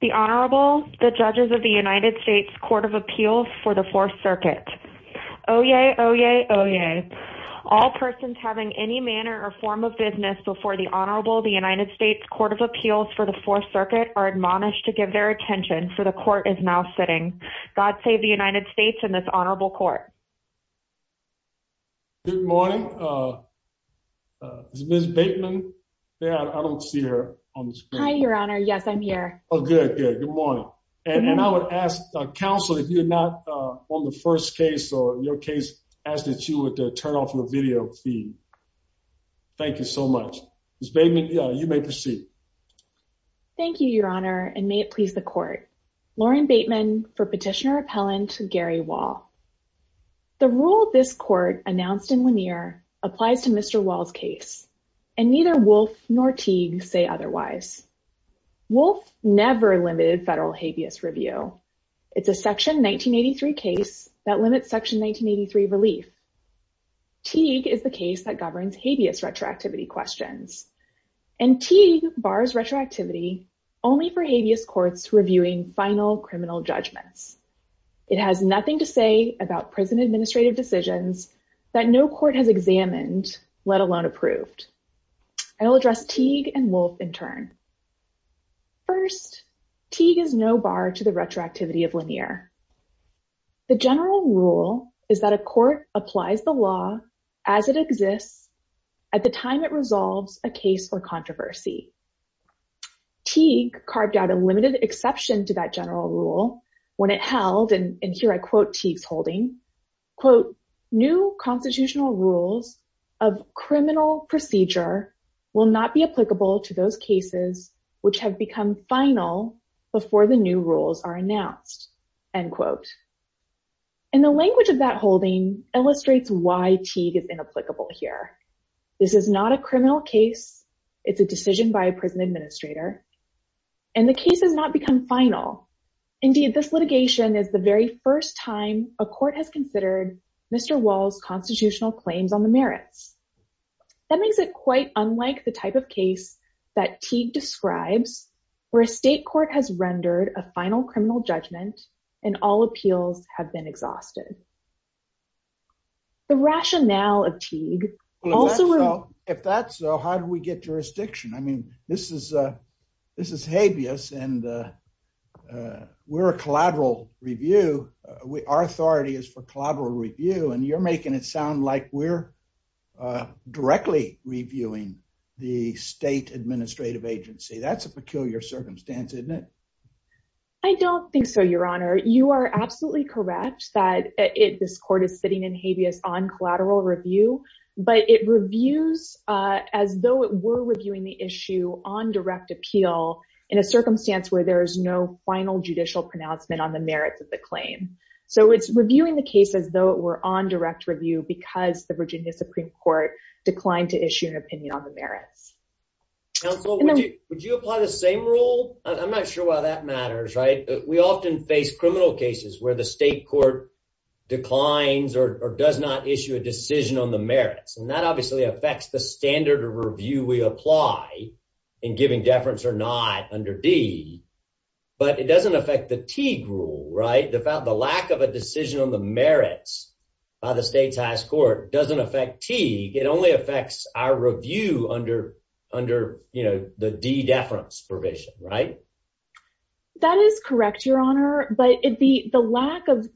The Honorable, the Judges of the United States Court of Appeals for the Fourth Circuit. Oyez! Oyez! Oyez! All persons having any manner or form of business before the Honorable, the United States Court of Appeals for the Fourth Circuit are admonished to give their attention, for the Court is now sitting. God save the United States and this Honorable Court. Good morning. Ms. Bateman. Yeah, I don't see her on the screen. Hi, Your Honor. Yes, I'm here. Oh, good, good. Good morning. And I would ask counsel if you're not on the first case or your case, ask that you would turn off your video feed. Thank you so much. Ms. Bateman, you may proceed. Thank you, Your Honor, and may it please the Court. Lauren Bateman for Petitioner-Appellant Gary Wall. The rule this Court announced in Lanier applies to Mr. Wall's case, and neither Wolfe nor Teague say otherwise. Wolfe never limited federal habeas review. It's a Section 1983 case that limits Section 1983 relief. Teague is the case that governs habeas retroactivity questions, and Teague bars retroactivity only for habeas courts reviewing final criminal judgments. It has nothing to say about prison administrative decisions that no court has examined, let alone approved. I will address Teague and Wolfe in turn. First, Teague is no bar to the retroactivity of Lanier. The general rule is that a court applies the law as it exists at the time it resolves a case or controversy. Teague carved out a limited exception to that general rule when it held, and here I quote Teague's holding, quote, And the language of that holding illustrates why Teague is inapplicable here. This is not a criminal case. It's a decision by a prison administrator, and the case has not become final. Indeed, this litigation is the very first time a court has considered Mr. Wall's constitutional claims on the merits. That makes it quite unlike the type of case that Teague describes, where a state court has rendered a final criminal judgment and all appeals have been exhausted. The rationale of Teague also- If that's so, how do we get jurisdiction? I mean, this is habeas, and we're a collateral review. Our authority is for collateral review, and you're making it sound like we're directly reviewing the state administrative agency. That's a peculiar circumstance, isn't it? I don't think so, Your Honor. You are absolutely correct that this court is sitting in habeas on collateral review, but it reviews as though it were reviewing the issue on direct appeal in a circumstance where there is no final judicial pronouncement on the merits of the claim. So it's reviewing the case as though it were on direct review because the Virginia Supreme Court declined to issue an opinion on the merits. Counsel, would you apply the same rule? I'm not sure why that matters, right? We often face criminal cases where the state court declines or does not issue a decision on the merits, and that obviously affects the standard of review we apply in giving deference or not under Teague. But it doesn't affect the Teague rule, right? The lack of a decision on the merits by the state's highest court doesn't affect Teague. It only affects our review under the deference provision, right? That is correct, Your Honor, but the lack of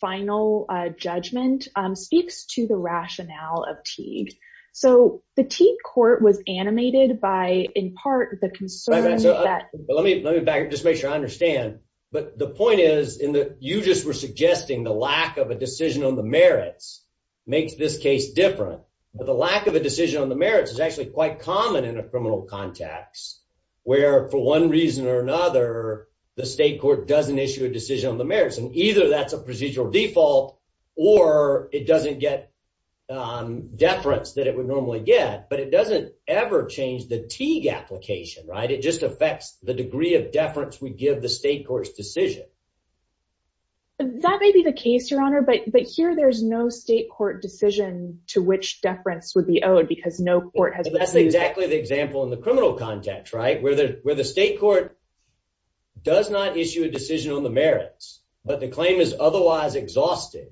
final judgment speaks to the rationale of Teague. So the Teague court was animated by, in part, the concern that… Let me back up just to make sure I understand. But the point is, you just were suggesting the lack of a decision on the merits makes this case different. But the lack of a decision on the merits is actually quite common in a criminal context where, for one reason or another, the state court doesn't issue a decision on the merits. And either that's a procedural default or it doesn't get deference that it would normally get, but it doesn't ever change the Teague application, right? It just affects the degree of deference we give the state court's decision. That may be the case, Your Honor, but here there's no state court decision to which deference would be owed because no court has… That's exactly the example in the criminal context, right, where the state court does not issue a decision on the merits, but the claim is otherwise exhausted.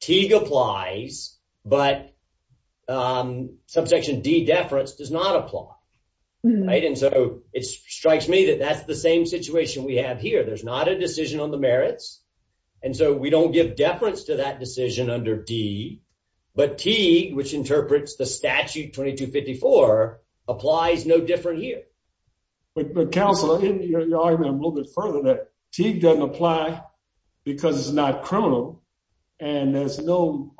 Teague applies, but subsection D, deference, does not apply, right? And so it strikes me that that's the same situation we have here. There's not a decision on the merits, and so we don't give deference to that decision under D. But Teague, which interprets the statute 2254, applies no different here. But, Counselor, you're arguing a little bit further that Teague doesn't apply because it's not criminal, and there's no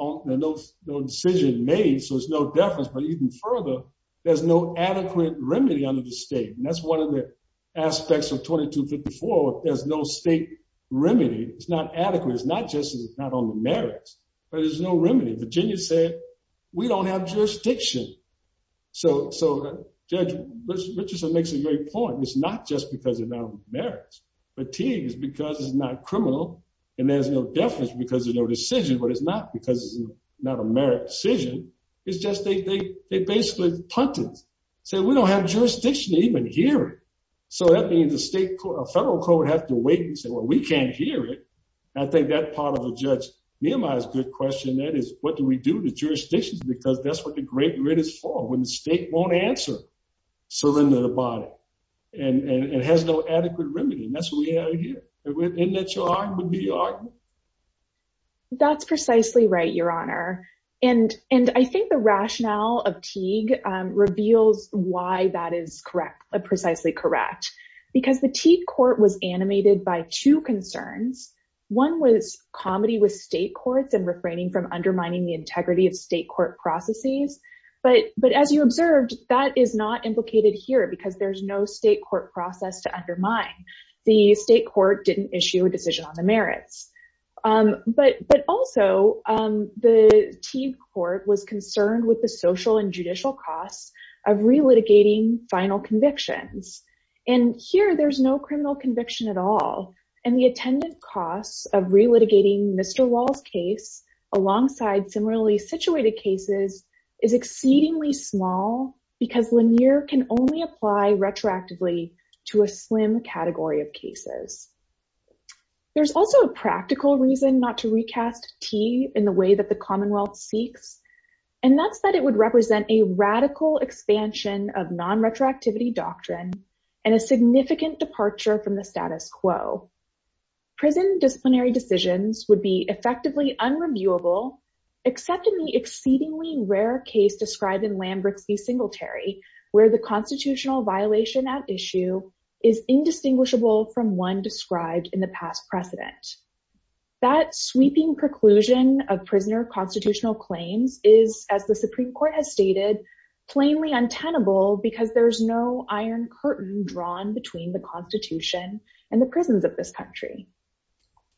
decision made, so there's no deference. But even further, there's no adequate remedy under the state, and that's one of the aspects of 2254. There's no state remedy. It's not adequate. It's not just not on the merits, but there's no remedy. Virginia said, we don't have jurisdiction. So, Judge Richardson makes a great point. It's not just because it's not on the merits. But Teague is because it's not criminal, and there's no deference because there's no decision, but it's not because it's not a merit decision. It's just they basically punted. Say, we don't have jurisdiction to even hear it. So that means the federal court has to wait and say, well, we can't hear it. I think that part of the judge, Nehemiah, is a good question. That is, what do we do to jurisdictions? Because that's what the great writ is for, when the state won't answer. Surrender the body. And it has no adequate remedy, and that's what we have here. Isn't that your argument? That's precisely right, Your Honor. And I think the rationale of Teague reveals why that is precisely correct. Because the Teague court was animated by two concerns. One was comedy with state courts and refraining from undermining the integrity of state court processes. But as you observed, that is not implicated here because there's no state court process to undermine. The state court didn't issue a decision on the merits. But also, the Teague court was concerned with the social and judicial costs of relitigating final convictions. And here, there's no criminal conviction at all. And the attendant costs of relitigating Mr. Wall's case alongside similarly situated cases is exceedingly small. Because Lanier can only apply retroactively to a slim category of cases. There's also a practical reason not to recast Teague in the way that the Commonwealth seeks. And that's that it would represent a radical expansion of non-retroactivity doctrine and a significant departure from the status quo. Prison disciplinary decisions would be effectively unreviewable, except in the exceedingly rare case described in Lambert v. Singletary, where the constitutional violation at issue is indistinguishable from one described in the past precedent. That sweeping preclusion of prisoner constitutional claims is, as the Supreme Court has stated, plainly untenable because there's no iron curtain drawn between the Constitution and the prisons of this country.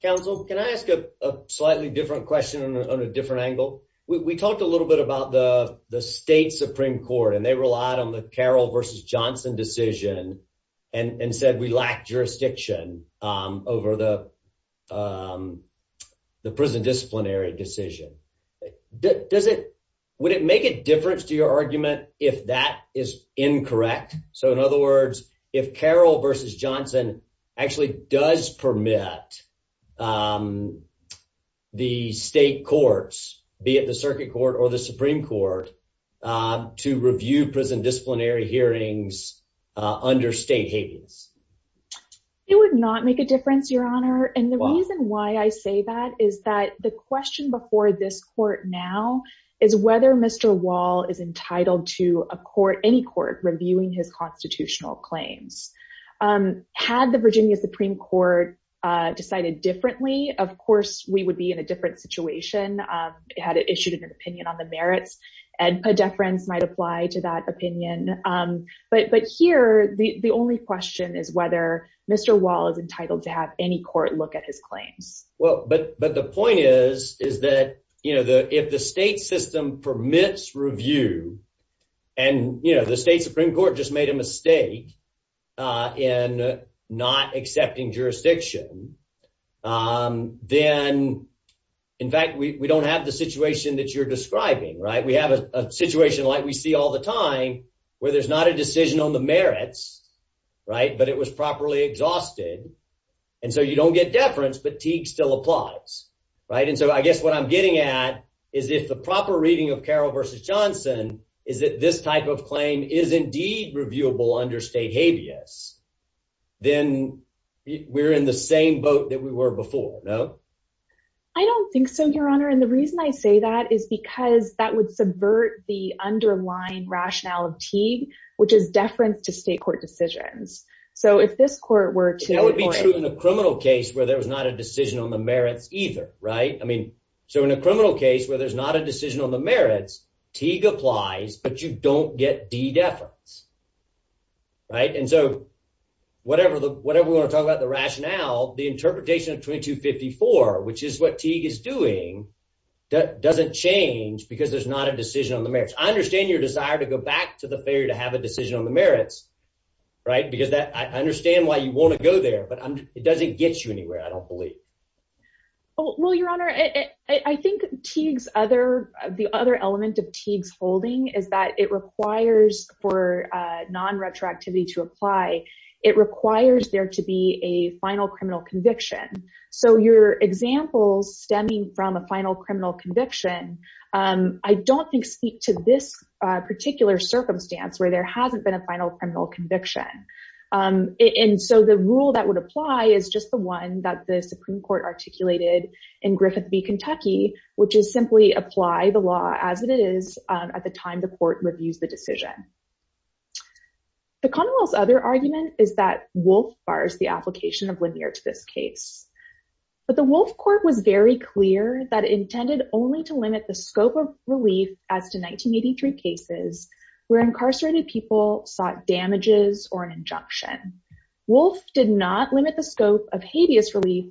Counsel, can I ask a slightly different question on a different angle? We talked a little bit about the state Supreme Court, and they relied on the Carroll v. Johnson decision and said we lack jurisdiction over the prison disciplinary decision. Would it make a difference to your argument if that is incorrect? So, in other words, if Carroll v. Johnson actually does permit the state courts, be it the Circuit Court or the Supreme Court, to review prison disciplinary hearings under state habeas? It would not make a difference, Your Honor. And the reason why I say that is that the question before this court now is whether Mr. Wall is entitled to a court, any court, reviewing his constitutional claims. Had the Virginia Supreme Court decided differently, of course, we would be in a different situation. Had it issued an opinion on the merits, a deference might apply to that opinion. But here, the only question is whether Mr. Wall is entitled to have any court look at his claims. Well, but the point is, is that, you know, if the state system permits review and, you know, we don't have the situation that you're describing, right? We have a situation like we see all the time where there's not a decision on the merits. Right. But it was properly exhausted. And so you don't get deference. But Teague still applies. Right. And so I guess what I'm getting at is if the proper reading of Carroll v. Johnson is that this type of claim is indeed reviewable under state habeas, then we're in the same boat that we were before. No, I don't think so, Your Honor. And the reason I say that is because that would subvert the underlying rationale of Teague, which is deference to state court decisions. So if this court were to. That would be true in a criminal case where there was not a decision on the merits either. Right. I mean, so in a criminal case where there's not a decision on the merits, Teague applies, but you don't get deference. Right. And so whatever the whatever we want to talk about, the rationale, the interpretation of 2254, which is what Teague is doing, that doesn't change because there's not a decision on the merits. I understand your desire to go back to the failure to have a decision on the merits. Right. Because I understand why you want to go there, but it doesn't get you anywhere. I don't believe. Well, Your Honor, I think Teague's other the other element of Teague's holding is that it requires for non retroactivity to apply. It requires there to be a final criminal conviction. So your examples stemming from a final criminal conviction, I don't think speak to this particular circumstance where there hasn't been a final criminal conviction. And so the rule that would apply is just the one that the Supreme Court articulated in Griffith v. Kentucky, which is simply apply the law as it is at the time the court reviews the decision. The Commonwealth's other argument is that Wolf bars the application of linear to this case. But the Wolf Court was very clear that it intended only to limit the scope of relief as to 1983 cases where incarcerated people sought damages or an injunction. Wolf did not limit the scope of habeas relief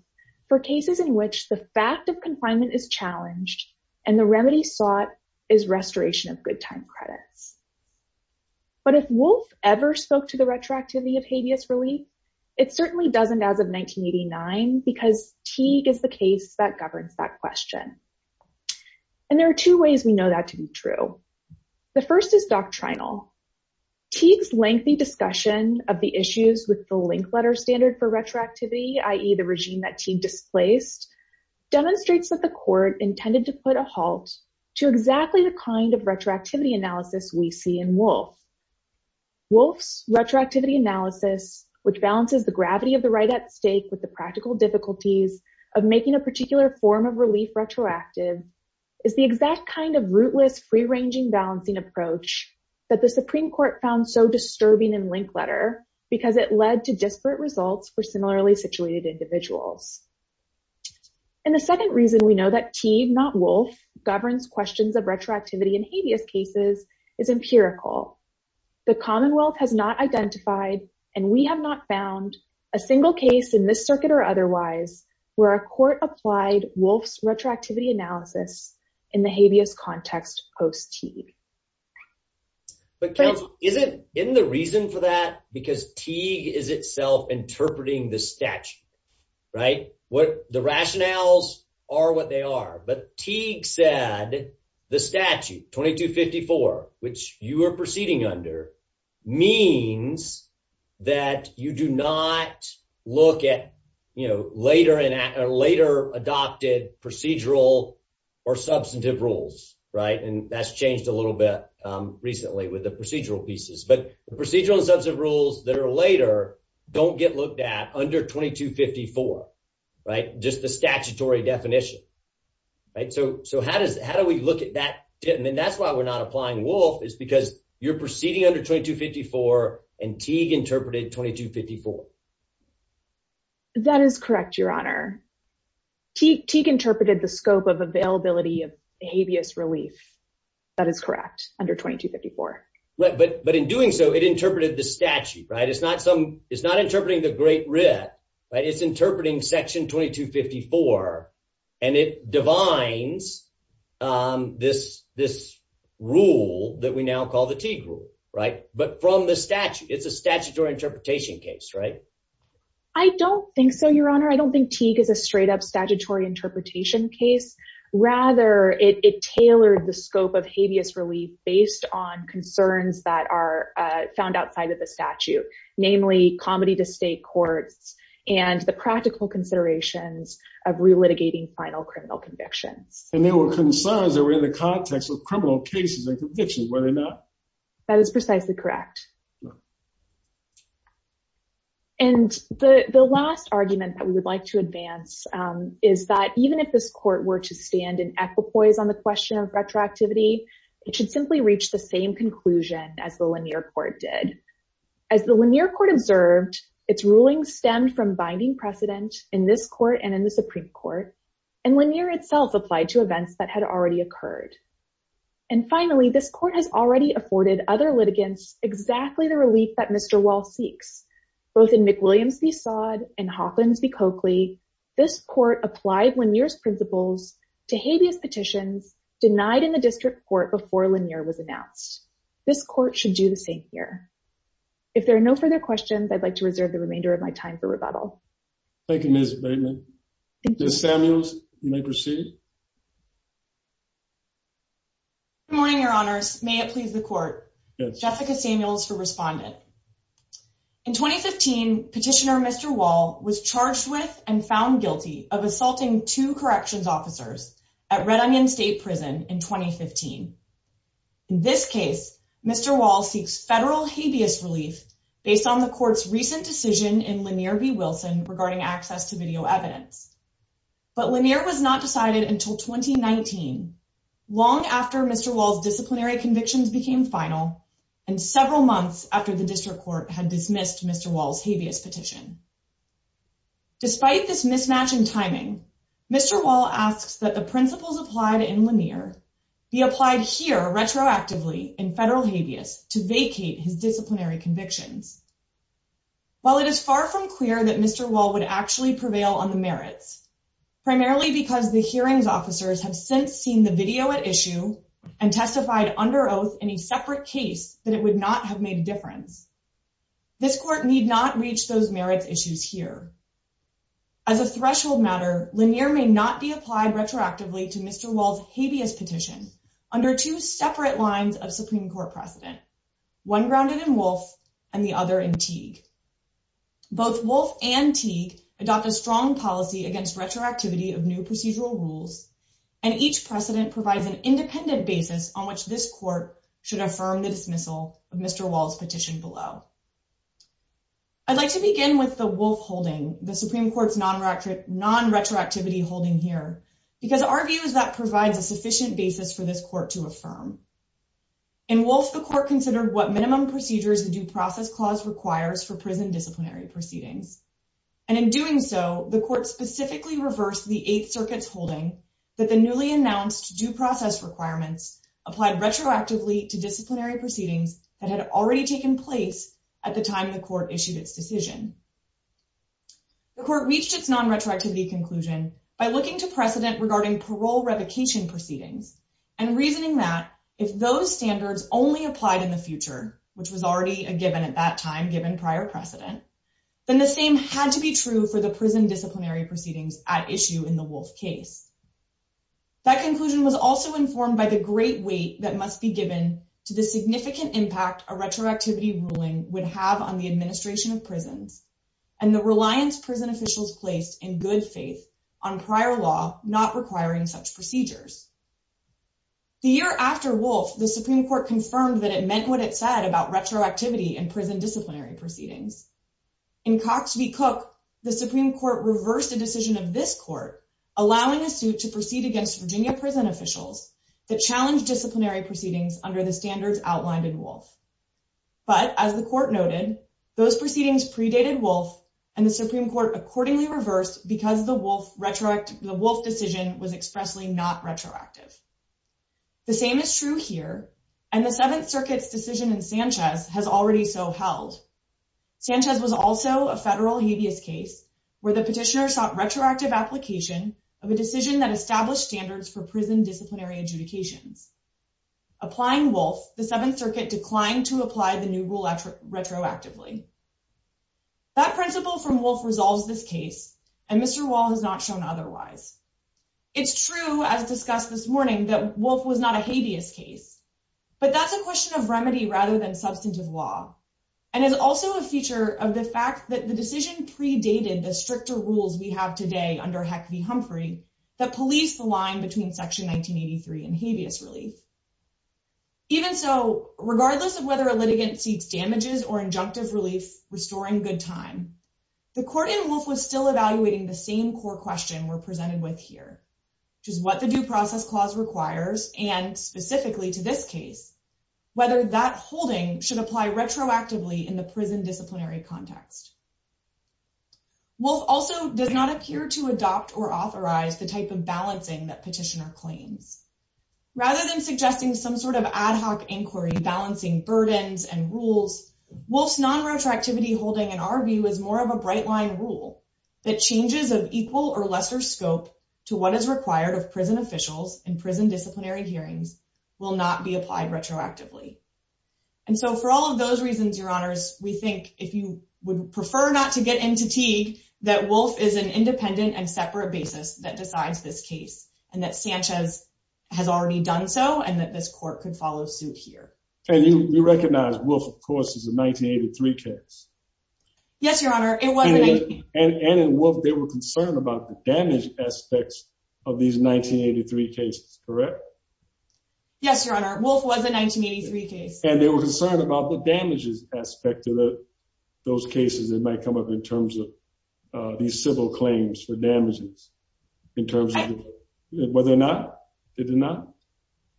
for cases in which the fact of confinement is challenged and the remedy sought is restoration of good time credits. But if Wolf ever spoke to the retroactivity of habeas relief, it certainly doesn't as of 1989, because Teague is the case that governs that question. And there are two ways we know that to be true. The first is doctrinal. Teague's lengthy discussion of the issues with the link letter standard for retroactivity, i.e. the regime that Teague displaced, demonstrates that the court intended to put a halt to exactly the kind of retroactivity analysis we see in Wolf. Wolf's retroactivity analysis, which balances the gravity of the right at stake with the practical difficulties of making a particular form of relief retroactive, is the exact kind of rootless free-ranging balancing approach that the Supreme Court found so disturbing in link letter because it led to disparate results for similarly situated individuals. And the second reason we know that Teague, not Wolf, governs questions of retroactivity in habeas cases is empirical. The Commonwealth has not identified, and we have not found, a single case in this circuit or otherwise where a court applied Wolf's retroactivity analysis in the habeas context post-Teague. But isn't the reason for that because Teague is itself interpreting the statute, right? The rationales are what they are, but Teague said the statute, 2254, which you are proceeding under, means that you do not look at, you know, later adopted procedural or substantive rules, right? And that's changed a little bit recently with the procedural pieces. But the procedural and substantive rules that are later don't get looked at under 2254, right? Just the statutory definition, right? So how do we look at that? And that's why we're not applying Wolf is because you're proceeding under 2254, and Teague interpreted 2254. That is correct, Your Honor. Teague interpreted the scope of availability of habeas relief. That is correct, under 2254. But in doing so, it interpreted the statute, right? It's not interpreting the Great Writ, right? It divines this rule that we now call the Teague rule, right? But from the statute, it's a statutory interpretation case, right? I don't think so, Your Honor. I don't think Teague is a straight-up statutory interpretation case. Rather, it tailored the scope of habeas relief based on concerns that are found outside of the statute, namely comedy-to-state courts and the practical considerations of relitigating final criminal convictions. And they were concerns that were in the context of criminal cases and convictions, were they not? That is precisely correct. And the last argument that we would like to advance is that even if this court were to stand in equipoise on the question of retroactivity, it should simply reach the same conclusion as the Lanier court did. As the Lanier court observed, its ruling stemmed from binding precedent in this court and in the Supreme Court, and Lanier itself applied to events that had already occurred. And finally, this court has already afforded other litigants exactly the relief that Mr. Wall seeks. Both in McWilliams v. Sod and Hawkins v. Coakley, this court applied Lanier's principles to habeas petitions denied in the district court before Lanier was announced. This court should do the same here. If there are no further questions, I'd like to reserve the remainder of my time for rebuttal. Thank you, Ms. Bateman. Ms. Samuels, you may proceed. Good morning, Your Honors. May it please the Court? Yes. Jessica Samuels for Respondent. In 2015, Petitioner Mr. Wall was charged with and found guilty of assaulting two corrections officers at Red Onion State Prison in 2015. In this case, Mr. Wall seeks federal habeas relief based on the court's recent decision in Lanier v. Wilson regarding access to video evidence. But Lanier was not decided until 2019, long after Mr. Wall's disciplinary convictions became final and several months after the district court had dismissed Mr. Wall's habeas petition. Despite this mismatch in timing, Mr. Wall asks that the principles applied in Lanier be applied here retroactively in federal habeas to vacate his disciplinary convictions. While it is far from clear that Mr. Wall would actually prevail on the merits, primarily because the hearings officers have since seen the video at issue and testified under oath in a separate case that it would not have made a difference, this court need not reach those merits issues here. As a threshold matter, Lanier may not be applied retroactively to Mr. Wall's habeas petition under two separate lines of Supreme Court precedent, one grounded in Wolfe and the other in Teague. Both Wolfe and Teague adopt a strong policy against retroactivity of new procedural rules, and each precedent provides an independent basis on which this court should affirm the dismissal of Mr. Wall's petition below. I'd like to begin with the Wolfe holding, the Supreme Court's non-retroactivity holding here, because our view is that provides a sufficient basis for this court to affirm. In Wolfe, the court considered what minimum procedures the due process clause requires for prison disciplinary proceedings. And in doing so, the court specifically reversed the Eighth Circuit's holding that the newly announced due process requirements applied retroactively to disciplinary proceedings that had already taken place at the time the court issued its decision. The court reached its non-retroactivity conclusion by looking to precedent regarding parole revocation proceedings and reasoning that if those standards only applied in the future, which was already a given at that time, given prior precedent, then the same had to be true for the prison disciplinary proceedings at issue in the Wolfe case. That conclusion was also informed by the great weight that must be given to the significant impact a retroactivity ruling would have on the administration of prisons and the reliance prison officials placed in good faith on prior law not requiring such procedures. The year after Wolfe, the Supreme Court confirmed that it meant what it said about retroactivity and prison disciplinary proceedings. In Cox v. Cook, the Supreme Court reversed a decision of this court allowing a suit to proceed against Virginia prison officials that challenged disciplinary proceedings under the standards outlined in Wolfe. But, as the court noted, those proceedings predated Wolfe and the Supreme Court accordingly reversed because the Wolfe decision was expressly not retroactive. The same is true here, and the Seventh Circuit's decision in Sanchez has already so held. Sanchez was also a federal habeas case where the petitioner sought retroactive application of a decision that established standards for prison disciplinary adjudications. Applying Wolfe, the Seventh Circuit declined to apply the new rule retroactively. That principle from Wolfe resolves this case, and Mr. Wall has not shown otherwise. It's true, as discussed this morning, that Wolfe was not a habeas case, but that's a question of remedy rather than substantive law, and is also a feature of the fact that the decision predated the stricter rules we have today under Heck v. Humphrey that police the line between Section 1983 and habeas relief. Even so, regardless of whether a litigant seeks damages or injunctive relief restoring good time, the court in Wolfe was still evaluating the same core question we're presented with here, which is what the Due Process Clause requires and, specifically to this case, whether that holding should apply retroactively in the prison disciplinary context. Wolfe also does not appear to adopt or authorize the type of balancing that petitioner claims. Rather than suggesting some sort of ad hoc inquiry balancing burdens and rules, Wolfe's non-retroactivity holding, in our view, is more of a bright-line rule that changes of equal or lesser scope to what is required of prison officials in prison disciplinary hearings will not be applied retroactively. And so for all of those reasons, Your Honors, we think if you would prefer not to get into Teague, that Wolfe is an independent and separate basis that decides this case and that Sanchez has already done so and that this court could follow suit here. And you recognize Wolfe, of course, is a 1983 case. Yes, Your Honor. And in Wolfe, they were concerned about the damage aspects of these 1983 cases, correct? Yes, Your Honor. Wolfe was a 1983 case. And they were concerned about the damages aspect of those cases that might come up in terms of these civil claims for damages in terms of whether or not they did not?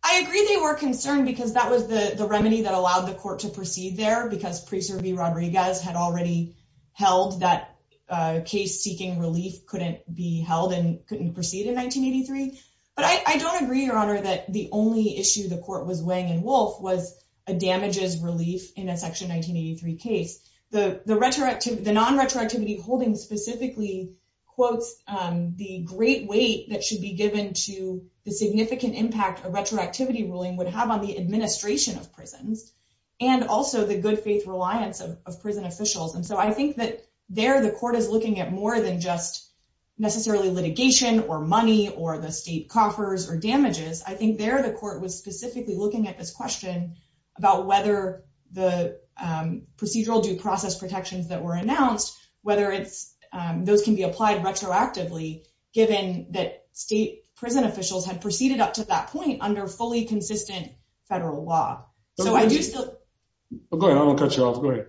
I agree they were concerned because that was the remedy that allowed the court to proceed there because Priester B. Rodriguez had already held that case seeking relief couldn't be held and couldn't proceed in 1983. But I don't agree, Your Honor, that the only issue the court was weighing in Wolfe was a damages relief in a section 1983 case. The non-retroactivity holding specifically quotes the great weight that should be given to the significant impact a retroactivity ruling would have on the administration of prisons and also the good faith reliance of prison officials. And so I think that there the court is looking at more than just necessarily litigation or money or the state coffers or damages. I think there the court was specifically looking at this question about whether the procedural due process protections that were announced, whether those can be applied retroactively given that state prison officials had proceeded up to that point under fully consistent federal law. Go ahead, I won't cut you off. Go ahead.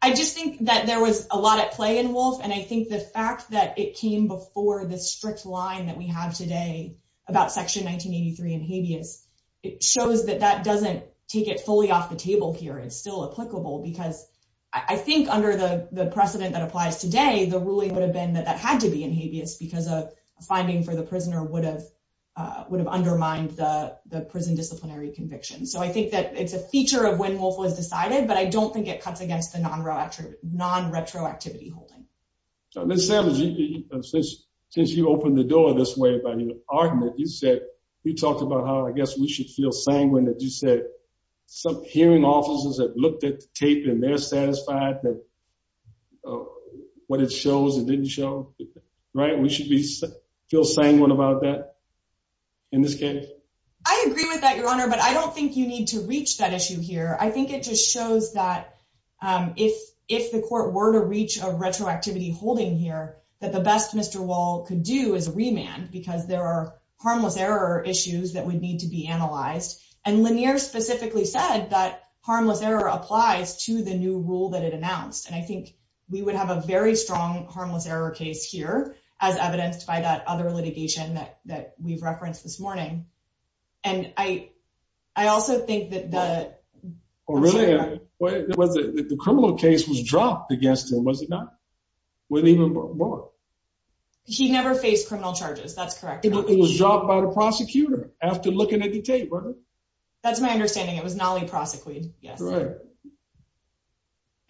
I just think that there was a lot at play in Wolfe. And I think the fact that it came before the strict line that we have today about section 1983 in habeas, it shows that that doesn't take it fully off the table here. It's still applicable because I think under the precedent that applies today, the ruling would have been that that had to be in habeas because a finding for the prisoner would have undermined the prison disciplinary conviction. So I think that it's a feature of when Wolfe was decided, but I don't think it cuts against the non retroactive non retroactivity holding. Let's say since you opened the door this way by argument, you said you talked about how I guess we should feel sanguine that you said some hearing officers have looked at the tape and they're satisfied that what it shows and didn't show. Right. We should be feel sanguine about that in this case. I agree with that, Your Honor, but I don't think you need to reach that issue here. I think it just shows that if the court were to reach a retroactivity holding here, that the best Mr. Wall could do is remand because there are harmless error issues that would need to be analyzed. And Lanier specifically said that harmless error applies to the new rule that it announced. And I think we would have a very strong harmless error case here as evidenced by that other litigation that that we've referenced this morning. And I, I also think that the. Oh, really. Was it the criminal case was dropped against him was it not with even more. He never faced criminal charges. That's correct. It was dropped by the prosecutor after looking at the tape. That's my understanding. It was not only prosecuted. Yes.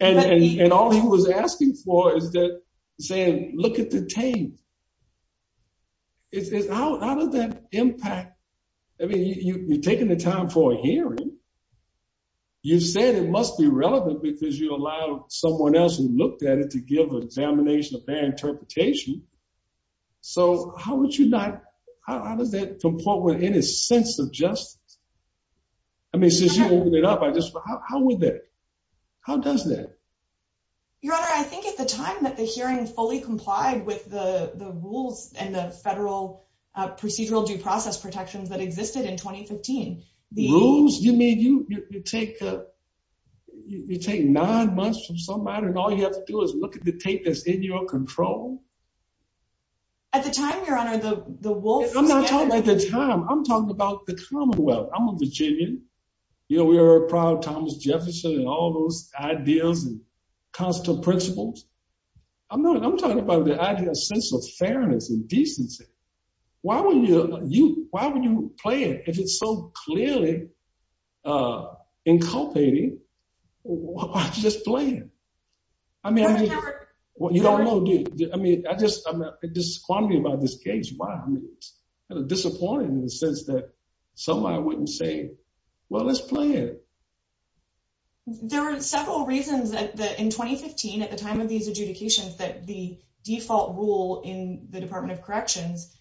And all he was asking for is that saying, look at the tape. It's out of that impact. I mean, you've taken the time for hearing. You said it must be relevant because you allow someone else who looked at it to give examination of their interpretation. So, how would you not. How does that comport with any sense of justice. I mean, since you opened it up I just how would that. How does that. Your honor, I think at the time that the hearing fully complied with the rules and the federal procedural due process protections that existed in 2015, the rules, you mean you take up. You take nine months from somebody and all you have to do is look at the tape that's in your control. At the time, your honor, the wolf. I'm not talking about the time I'm talking about the commonwealth. I'm a Virginian. You know, we are proud Thomas Jefferson and all those ideas and constant principles. I'm not I'm talking about the idea of sense of fairness and decency. Why would you why would you play it if it's so clearly inculcating just playing. I mean, you don't know. I mean, I just I'm just wondering about this case. Why are you disappointed in the sense that somebody wouldn't say, well, let's play it. There are several reasons that in 2015 at the time of these adjudications that the default rule in the Department of Corrections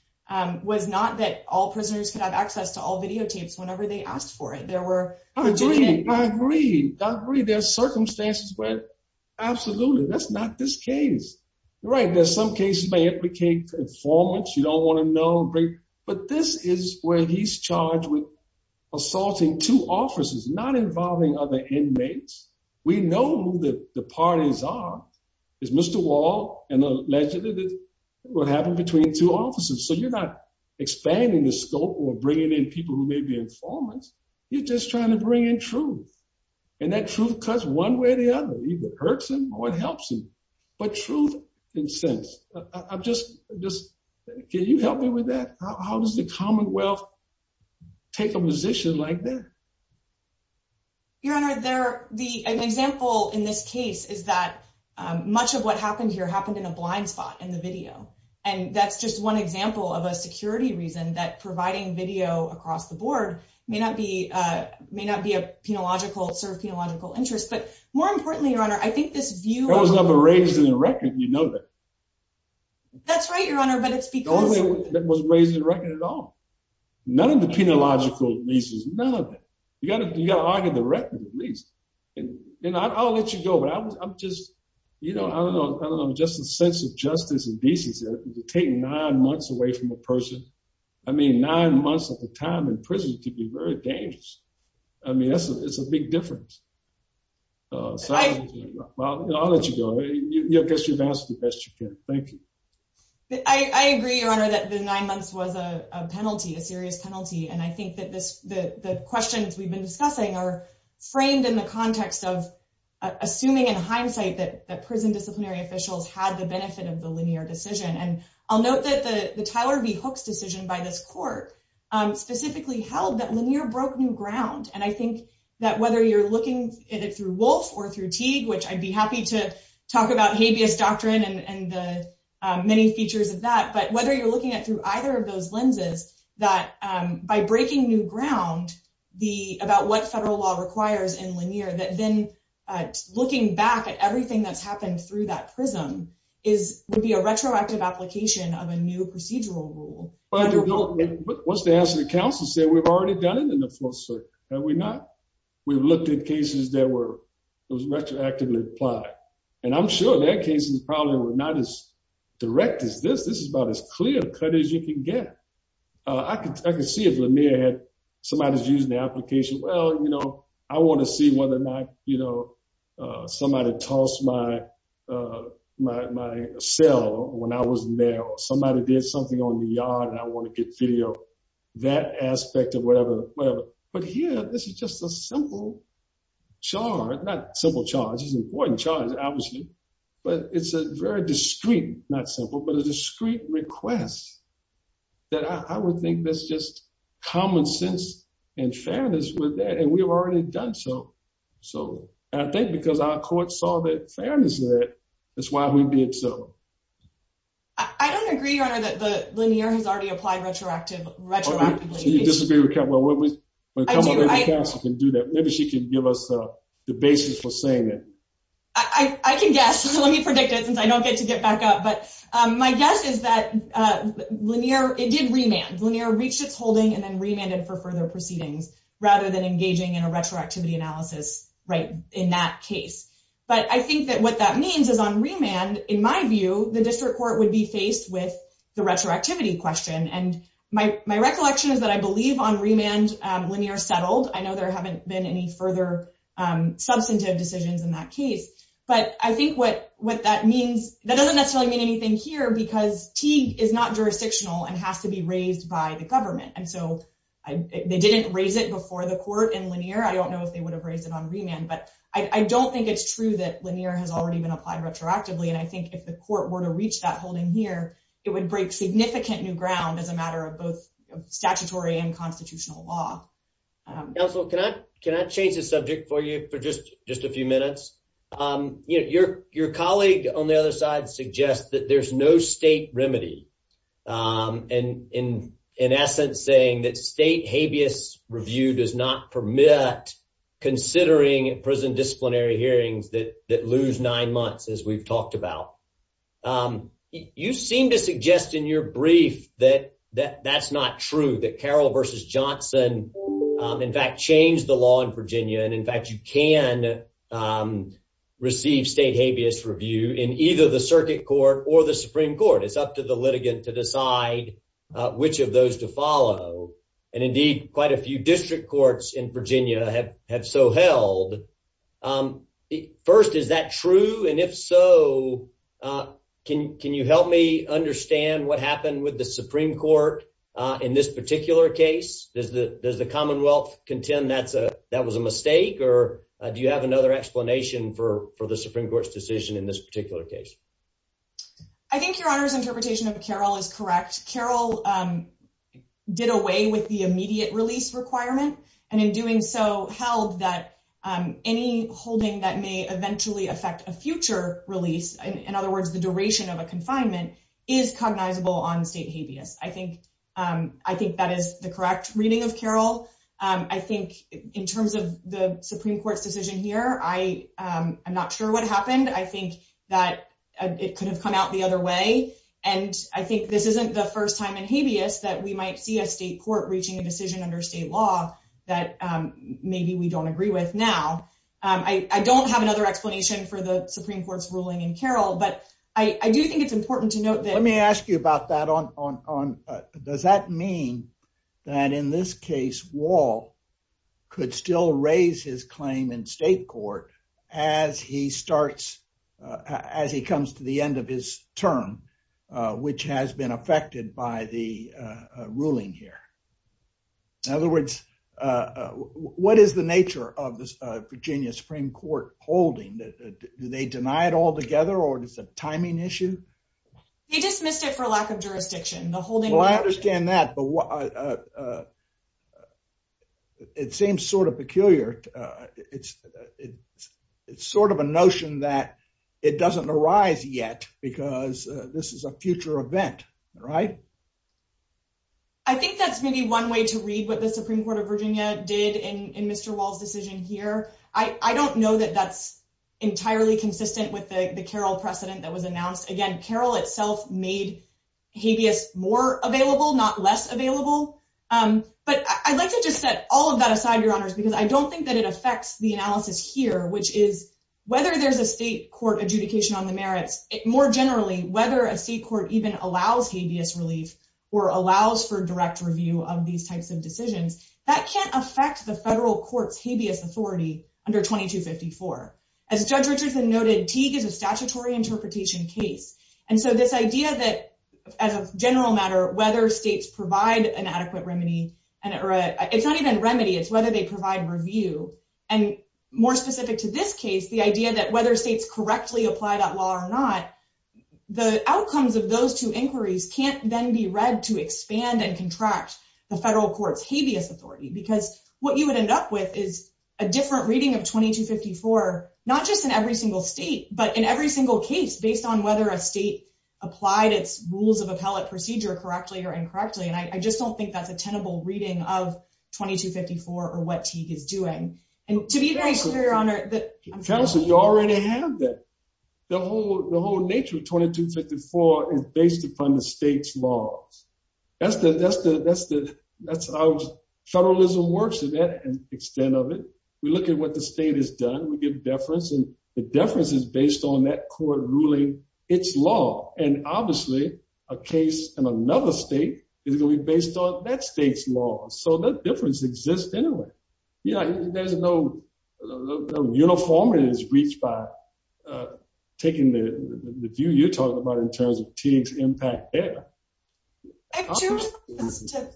was not that all prisoners could have access to all videotapes whenever they asked for it. I agree. I agree. There are circumstances where absolutely that's not this case. Right. There's some cases may implicate informants. You don't want to know. But this is where he's charged with assaulting two officers, not involving other inmates. We know that the parties are is Mr. Wall and allegedly what happened between two officers. So you're not expanding the scope or bringing in people who may be informants. You're just trying to bring in truth. And that truth cuts one way or the other. It hurts him or it helps him. But truth and sense of just just can you help me with that? How does the Commonwealth take a position like that? Your Honor, there are the example in this case is that much of what happened here happened in a blind spot in the video. And that's just one example of a security reason that providing video across the board may not be may not be a penological sort of theological interest. But more importantly, your honor, I think this view was never raised in the record. You know that. That's right, your honor. But it's because it was raised in the record at all. None of the penological leases, none of it. You got to argue the record at least. You know, I'll let you go, but I'm just, you know, I don't know. Just a sense of justice and decency to take nine months away from a person. I mean, nine months at the time in prison to be very dangerous. I mean, it's a big difference. I'll let you go. I guess you've asked the best you can. Thank you. I agree, your honor, that the nine months was a penalty, a serious penalty. And I think that the questions we've been discussing are framed in the context of assuming in hindsight that prison disciplinary officials had the benefit of the linear decision. And I'll note that the Tyler V. Hooks decision by this court specifically held that linear broke new ground. And I think that whether you're looking at it through Wolf or through Teague, which I'd be happy to talk about habeas doctrine and the many features of that. But whether you're looking at through either of those lenses, that by breaking new ground, the about what federal law requires in linear, that then looking back at everything that's happened through that prism is would be a retroactive application of a new procedural rule. What's the answer? The council said we've already done it in the first. We've looked at cases that were retroactively applied, and I'm sure that cases probably were not as direct as this. This is about as clear cut as you can get. I can see if somebody's using the application. Well, you know, I want to see whether or not, you know, somebody tossed my my cell when I was there. Somebody did something on the yard and I want to get video, that aspect of whatever, whatever. But here, this is just a simple charge, not simple charge. It's an important charge, obviously. But it's a very discreet, not simple, but a discreet request that I would think that's just common sense and fairness with that. And we've already done so. So I think because our court saw the fairness of it, that's why we did so. I don't agree, Your Honor, that the linear has already applied retroactive retroactively. Do you disagree with that? Well, we can do that. Maybe she can give us the basis for saying that. I can guess. Let me predict it since I don't get to get back up. But my guess is that linear, it did remand linear, reached its holding and then remanded for further proceedings rather than engaging in a retroactivity analysis. Right. In that case. But I think that what that means is on remand. In my view, the district court would be faced with the retroactivity question. And my recollection is that I believe on remand linear settled. I know there haven't been any further substantive decisions in that case. But I think what what that means that doesn't necessarily mean anything here because T is not jurisdictional and has to be raised by the government. And so they didn't raise it before the court in linear. I don't know if they would have raised it on remand, but I don't think it's true that linear has already been applied retroactively. And I think if the court were to reach that holding here, it would break significant new ground as a matter of both statutory and constitutional law. Also, can I can I change the subject for you for just just a few minutes? Your colleague on the other side suggests that there's no state remedy. And in essence, saying that state habeas review does not permit considering prison disciplinary hearings that that lose nine months, as we've talked about. You seem to suggest in your brief that that that's not true, that Carroll versus Johnson, in fact, changed the law in Virginia. And in fact, you can receive state habeas review in either the circuit court or the Supreme Court. It's up to the litigant to decide which of those to follow. And indeed, quite a few district courts in Virginia have have so held. First, is that true? And if so, can can you help me understand what happened with the Supreme Court in this particular case? Does the does the Commonwealth contend that's a that was a mistake? Or do you have another explanation for for the Supreme Court's decision in this particular case? I think your honor's interpretation of Carroll is correct. Carroll did away with the immediate release requirement. And in doing so held that any holding that may eventually affect a future release. In other words, the duration of a confinement is cognizable on state habeas. I think I think that is the correct reading of Carroll. I think in terms of the Supreme Court's decision here, I am not sure what happened. I think that it could have come out the other way. And I think this isn't the first time in habeas that we might see a state court reaching a decision under state law that maybe we don't agree with. Now, I don't have another explanation for the Supreme Court's ruling in Carroll. But I do think it's important to note that let me ask you about that on. Does that mean that in this case, Wall could still raise his claim in state court as he starts as he comes to the end of his term, which has been affected by the ruling here? In other words, what is the nature of the Virginia Supreme Court holding that? Do they deny it altogether or is it a timing issue? He dismissed it for lack of jurisdiction. Well, I understand that, but it seems sort of peculiar. It's sort of a notion that it doesn't arise yet because this is a future event, right? I think that's maybe one way to read what the Supreme Court of Virginia did in Mr. Wall's decision here. I don't know that that's entirely consistent with the Carroll precedent that was announced. Again, Carroll itself made habeas more available, not less available. But I'd like to just set all of that aside, Your Honors, because I don't think that it affects the analysis here, which is whether there's a state court adjudication on the merits. More generally, whether a state court even allows habeas relief or allows for direct review of these types of decisions, that can't affect the federal court's habeas authority under 2254. As Judge Richardson noted, Teague is a statutory interpretation case. And so this idea that, as a general matter, whether states provide an adequate remedy, it's not even remedy, it's whether they provide review. And more specific to this case, the idea that whether states correctly apply that law or not, the outcomes of those two inquiries can't then be read to expand and contract the federal court's habeas authority. Because what you would end up with is a different reading of 2254, not just in every single state, but in every single case, based on whether a state applied its rules of appellate procedure correctly or incorrectly. And I just don't think that's a tenable reading of 2254 or what Teague is doing. Counsel, you already have that. The whole nature of 2254 is based upon the state's laws. That's how federalism works to that extent of it. We look at what the state has done, we give deference, and the deference is based on that court ruling its law. And obviously, a case in another state is going to be based on that state's law. So that difference exists anyway. Yeah, there's no uniformity that's reached by taking the view you're talking about in terms of Teague's impact there. I have two responses to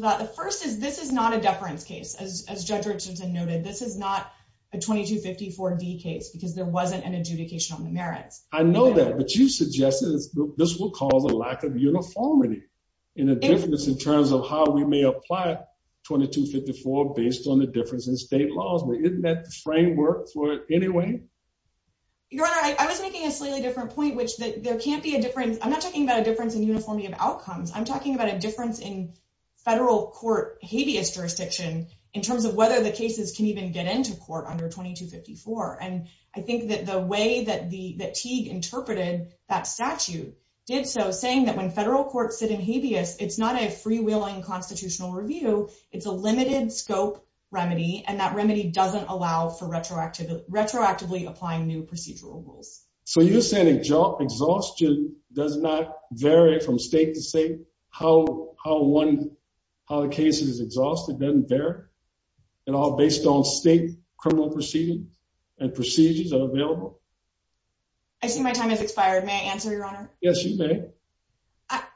that. The first is this is not a deference case. As Judge Richardson noted, this is not a 2254D case because there wasn't an adjudication on the merits. I know that. But you suggested this will cause a lack of uniformity in a difference in terms of how we may apply 2254 based on the difference in state laws. But isn't that the framework for it anyway? Your Honor, I was making a slightly different point, which there can't be a difference. I'm not talking about a difference in uniformity of outcomes. I'm talking about a difference in federal court habeas jurisdiction in terms of whether the cases can even get into court under 2254. And I think that the way that Teague interpreted that statute did so, saying that when federal courts sit in habeas, it's not a freewheeling constitutional review. It's a limited scope remedy. And that remedy doesn't allow for retroactively applying new procedural rules. So you're saying exhaustion does not vary from state to state? How the case is exhausted doesn't vary? And all based on state criminal proceedings and procedures that are available? I see my time has expired. May I answer, Your Honor? Yes, you may.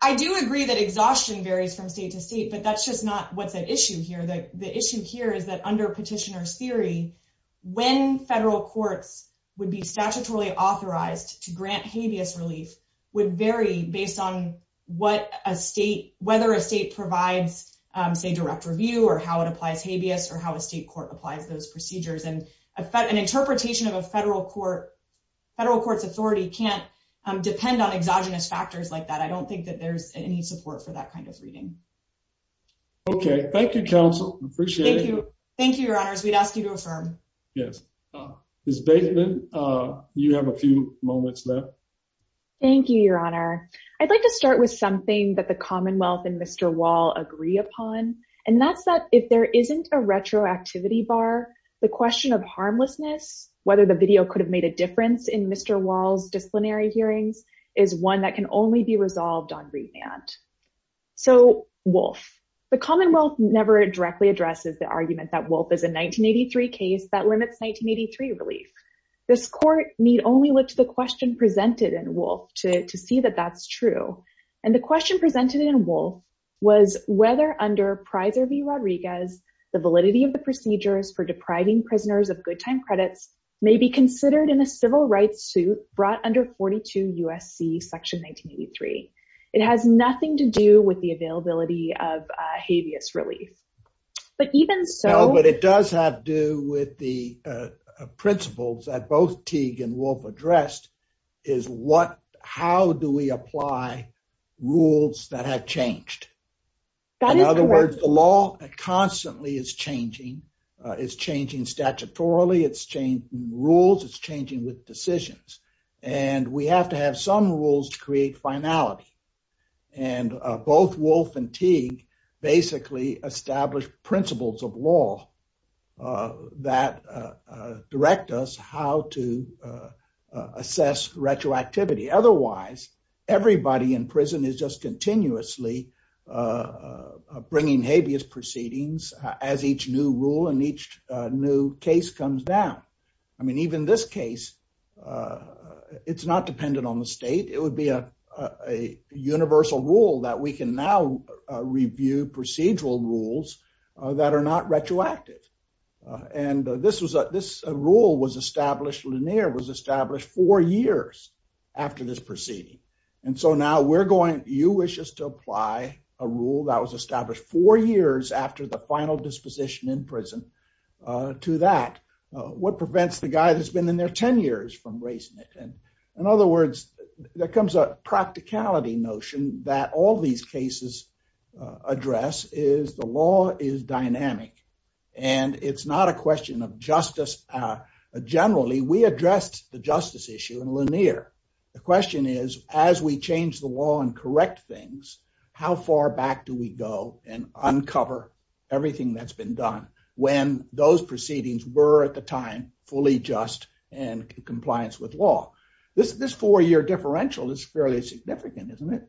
I do agree that exhaustion varies from state to state. But that's just not what's at issue here. The issue here is that under petitioner's theory, when federal courts would be statutorily authorized to grant habeas relief would vary based on whether a state provides, say, direct review or how it applies habeas or how a state court applies those procedures. And an interpretation of a federal court's authority can't depend on exogenous factors like that. I don't think that there's any support for that kind of reading. Okay, thank you, Counsel. Appreciate it. Thank you, Your Honors. We'd ask you to affirm. Yes. Ms. Bateman, you have a few moments left. Thank you, Your Honor. I'd like to start with something that the Commonwealth and Mr. Wall agree upon. And that's that if there isn't a retroactivity bar, the question of harmlessness, whether the video could have made a difference in Mr. Wall's disciplinary hearings, is one that can only be resolved on remand. So, Wolfe. The Commonwealth never directly addresses the argument that Wolfe is a 1983 case that limits 1983 relief. This court need only look to the question presented in Wolfe to see that that's true. And the question presented in Wolfe was whether under Prizer v. Rodriguez, the validity of the procedures for depriving prisoners of good time credits may be considered in a civil rights suit brought under 42 U.S.C. Section 1983. It has nothing to do with the availability of habeas relief. But even so... No, but it does have to do with the principles that both Teague and Wolfe addressed is how do we apply rules that have changed? In other words, the law constantly is changing. It's changing statutorily. It's changing rules. It's changing with decisions. And we have to have some rules to create finality. And both Wolfe and Teague basically established principles of law that direct us how to assess retroactivity. Otherwise, everybody in prison is just continuously bringing habeas proceedings as each new rule and each new case comes down. I mean, even this case, it's not dependent on the state. It would be a universal rule that we can now review procedural rules that are not retroactive. And this rule was established four years after this proceeding. And so now you wish us to apply a rule that was established four years after the final disposition in prison to that. What prevents the guy that's been in there 10 years from raising it? And in other words, there comes a practicality notion that all these cases address is the law is dynamic. And it's not a question of justice. Generally, we addressed the justice issue in Lanier. The question is, as we change the law and correct things, how far back do we go and uncover everything that's been done? When those proceedings were at the time fully just and compliance with law. This this four year differential is fairly significant, isn't it?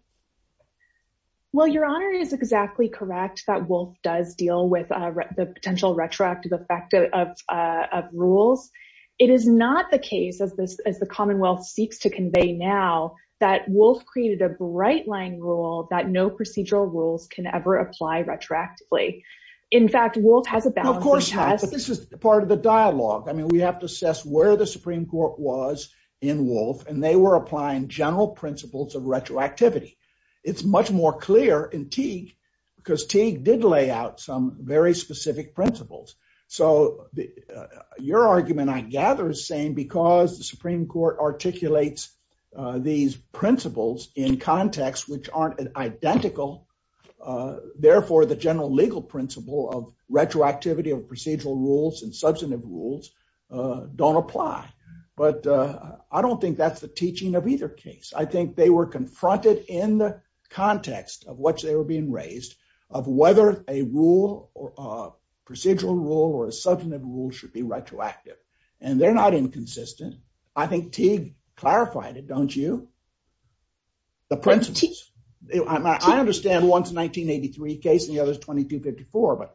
Well, Your Honor is exactly correct. That Wolfe does deal with the potential retroactive effect of rules. It is not the case of this as the Commonwealth seeks to convey now that Wolfe created a bright line rule that no procedural rules can ever apply retroactively. In fact, Wolfe has a. Of course, this is part of the dialogue. I mean, we have to assess where the Supreme Court was in Wolfe and they were applying general principles of retroactivity. It's much more clear in Teague because Teague did lay out some very specific principles. So your argument, I gather, is saying because the Supreme Court articulates these principles in context which aren't identical. Therefore, the general legal principle of retroactivity of procedural rules and substantive rules don't apply. But I don't think that's the teaching of either case. I think they were confronted in the context of which they were being raised of whether a rule or procedural rule or a substantive rule should be retroactive. And they're not inconsistent. I think Teague clarified it, don't you? The principles. I understand one is a 1983 case and the other is 2254.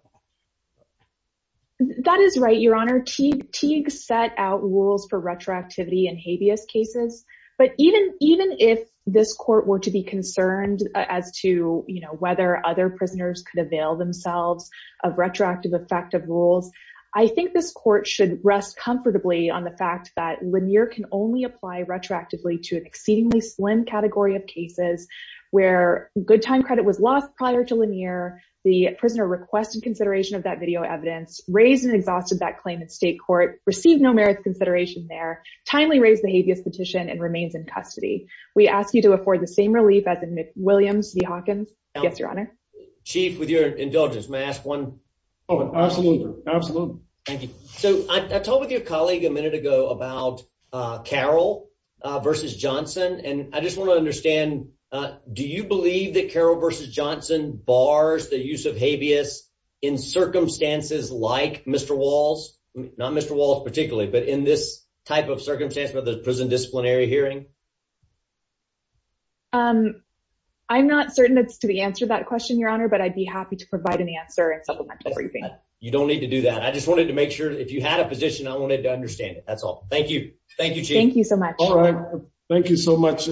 That is right, Your Honor. Teague set out rules for retroactivity in habeas cases. But even if this court were to be concerned as to whether other prisoners could avail themselves of retroactive effective rules, I think this court should rest comfortably on the fact that Lanier can only apply retroactively to an exceedingly slim category of cases where good time credit was lost prior to Lanier, the prisoner requested consideration of that video evidence, raised and exhausted that claim in state court, received no merits consideration there, timely raised the habeas petition and remains in custody. We ask you to afford the same relief as in Williams v. Hawkins. Yes, Your Honor. Chief, with your indulgence, may I ask one? Oh, absolutely. Absolutely. Thank you. So I talked with your colleague a minute ago about Carroll v. Johnson. And I just want to understand, do you believe that Carroll v. Johnson bars the use of habeas in circumstances like Mr. Walls, not Mr. Walls particularly, but in this type of circumstance with the prison disciplinary hearing? I'm not certain that's the answer to that question, Your Honor, but I'd be happy to provide an answer in supplemental briefing. You don't need to do that. I just wanted to make sure if you had a position, I wanted to understand it. That's all. Thank you. Thank you. Thank you so much. All right. Thank you so much,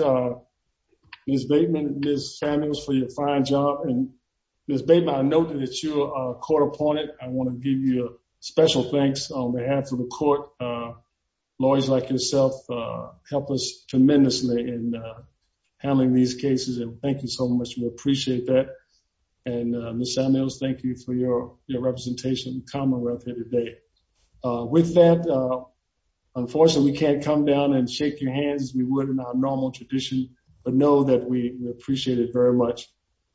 Ms. Bateman and Ms. Samuels for your fine job. And Ms. Bateman, I know that you are a court opponent. I want to give you a special thanks on behalf of the court. Lawyers like yourself help us tremendously in handling these cases. And thank you so much. We appreciate that. And Ms. Samuels, thank you for your representation. With that, unfortunately, we can't come down and shake your hands as we would in our normal tradition. But know that we appreciate it very much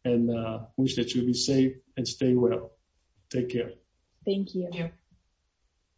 and wish that you'll be safe and stay well. Take care. Thank you.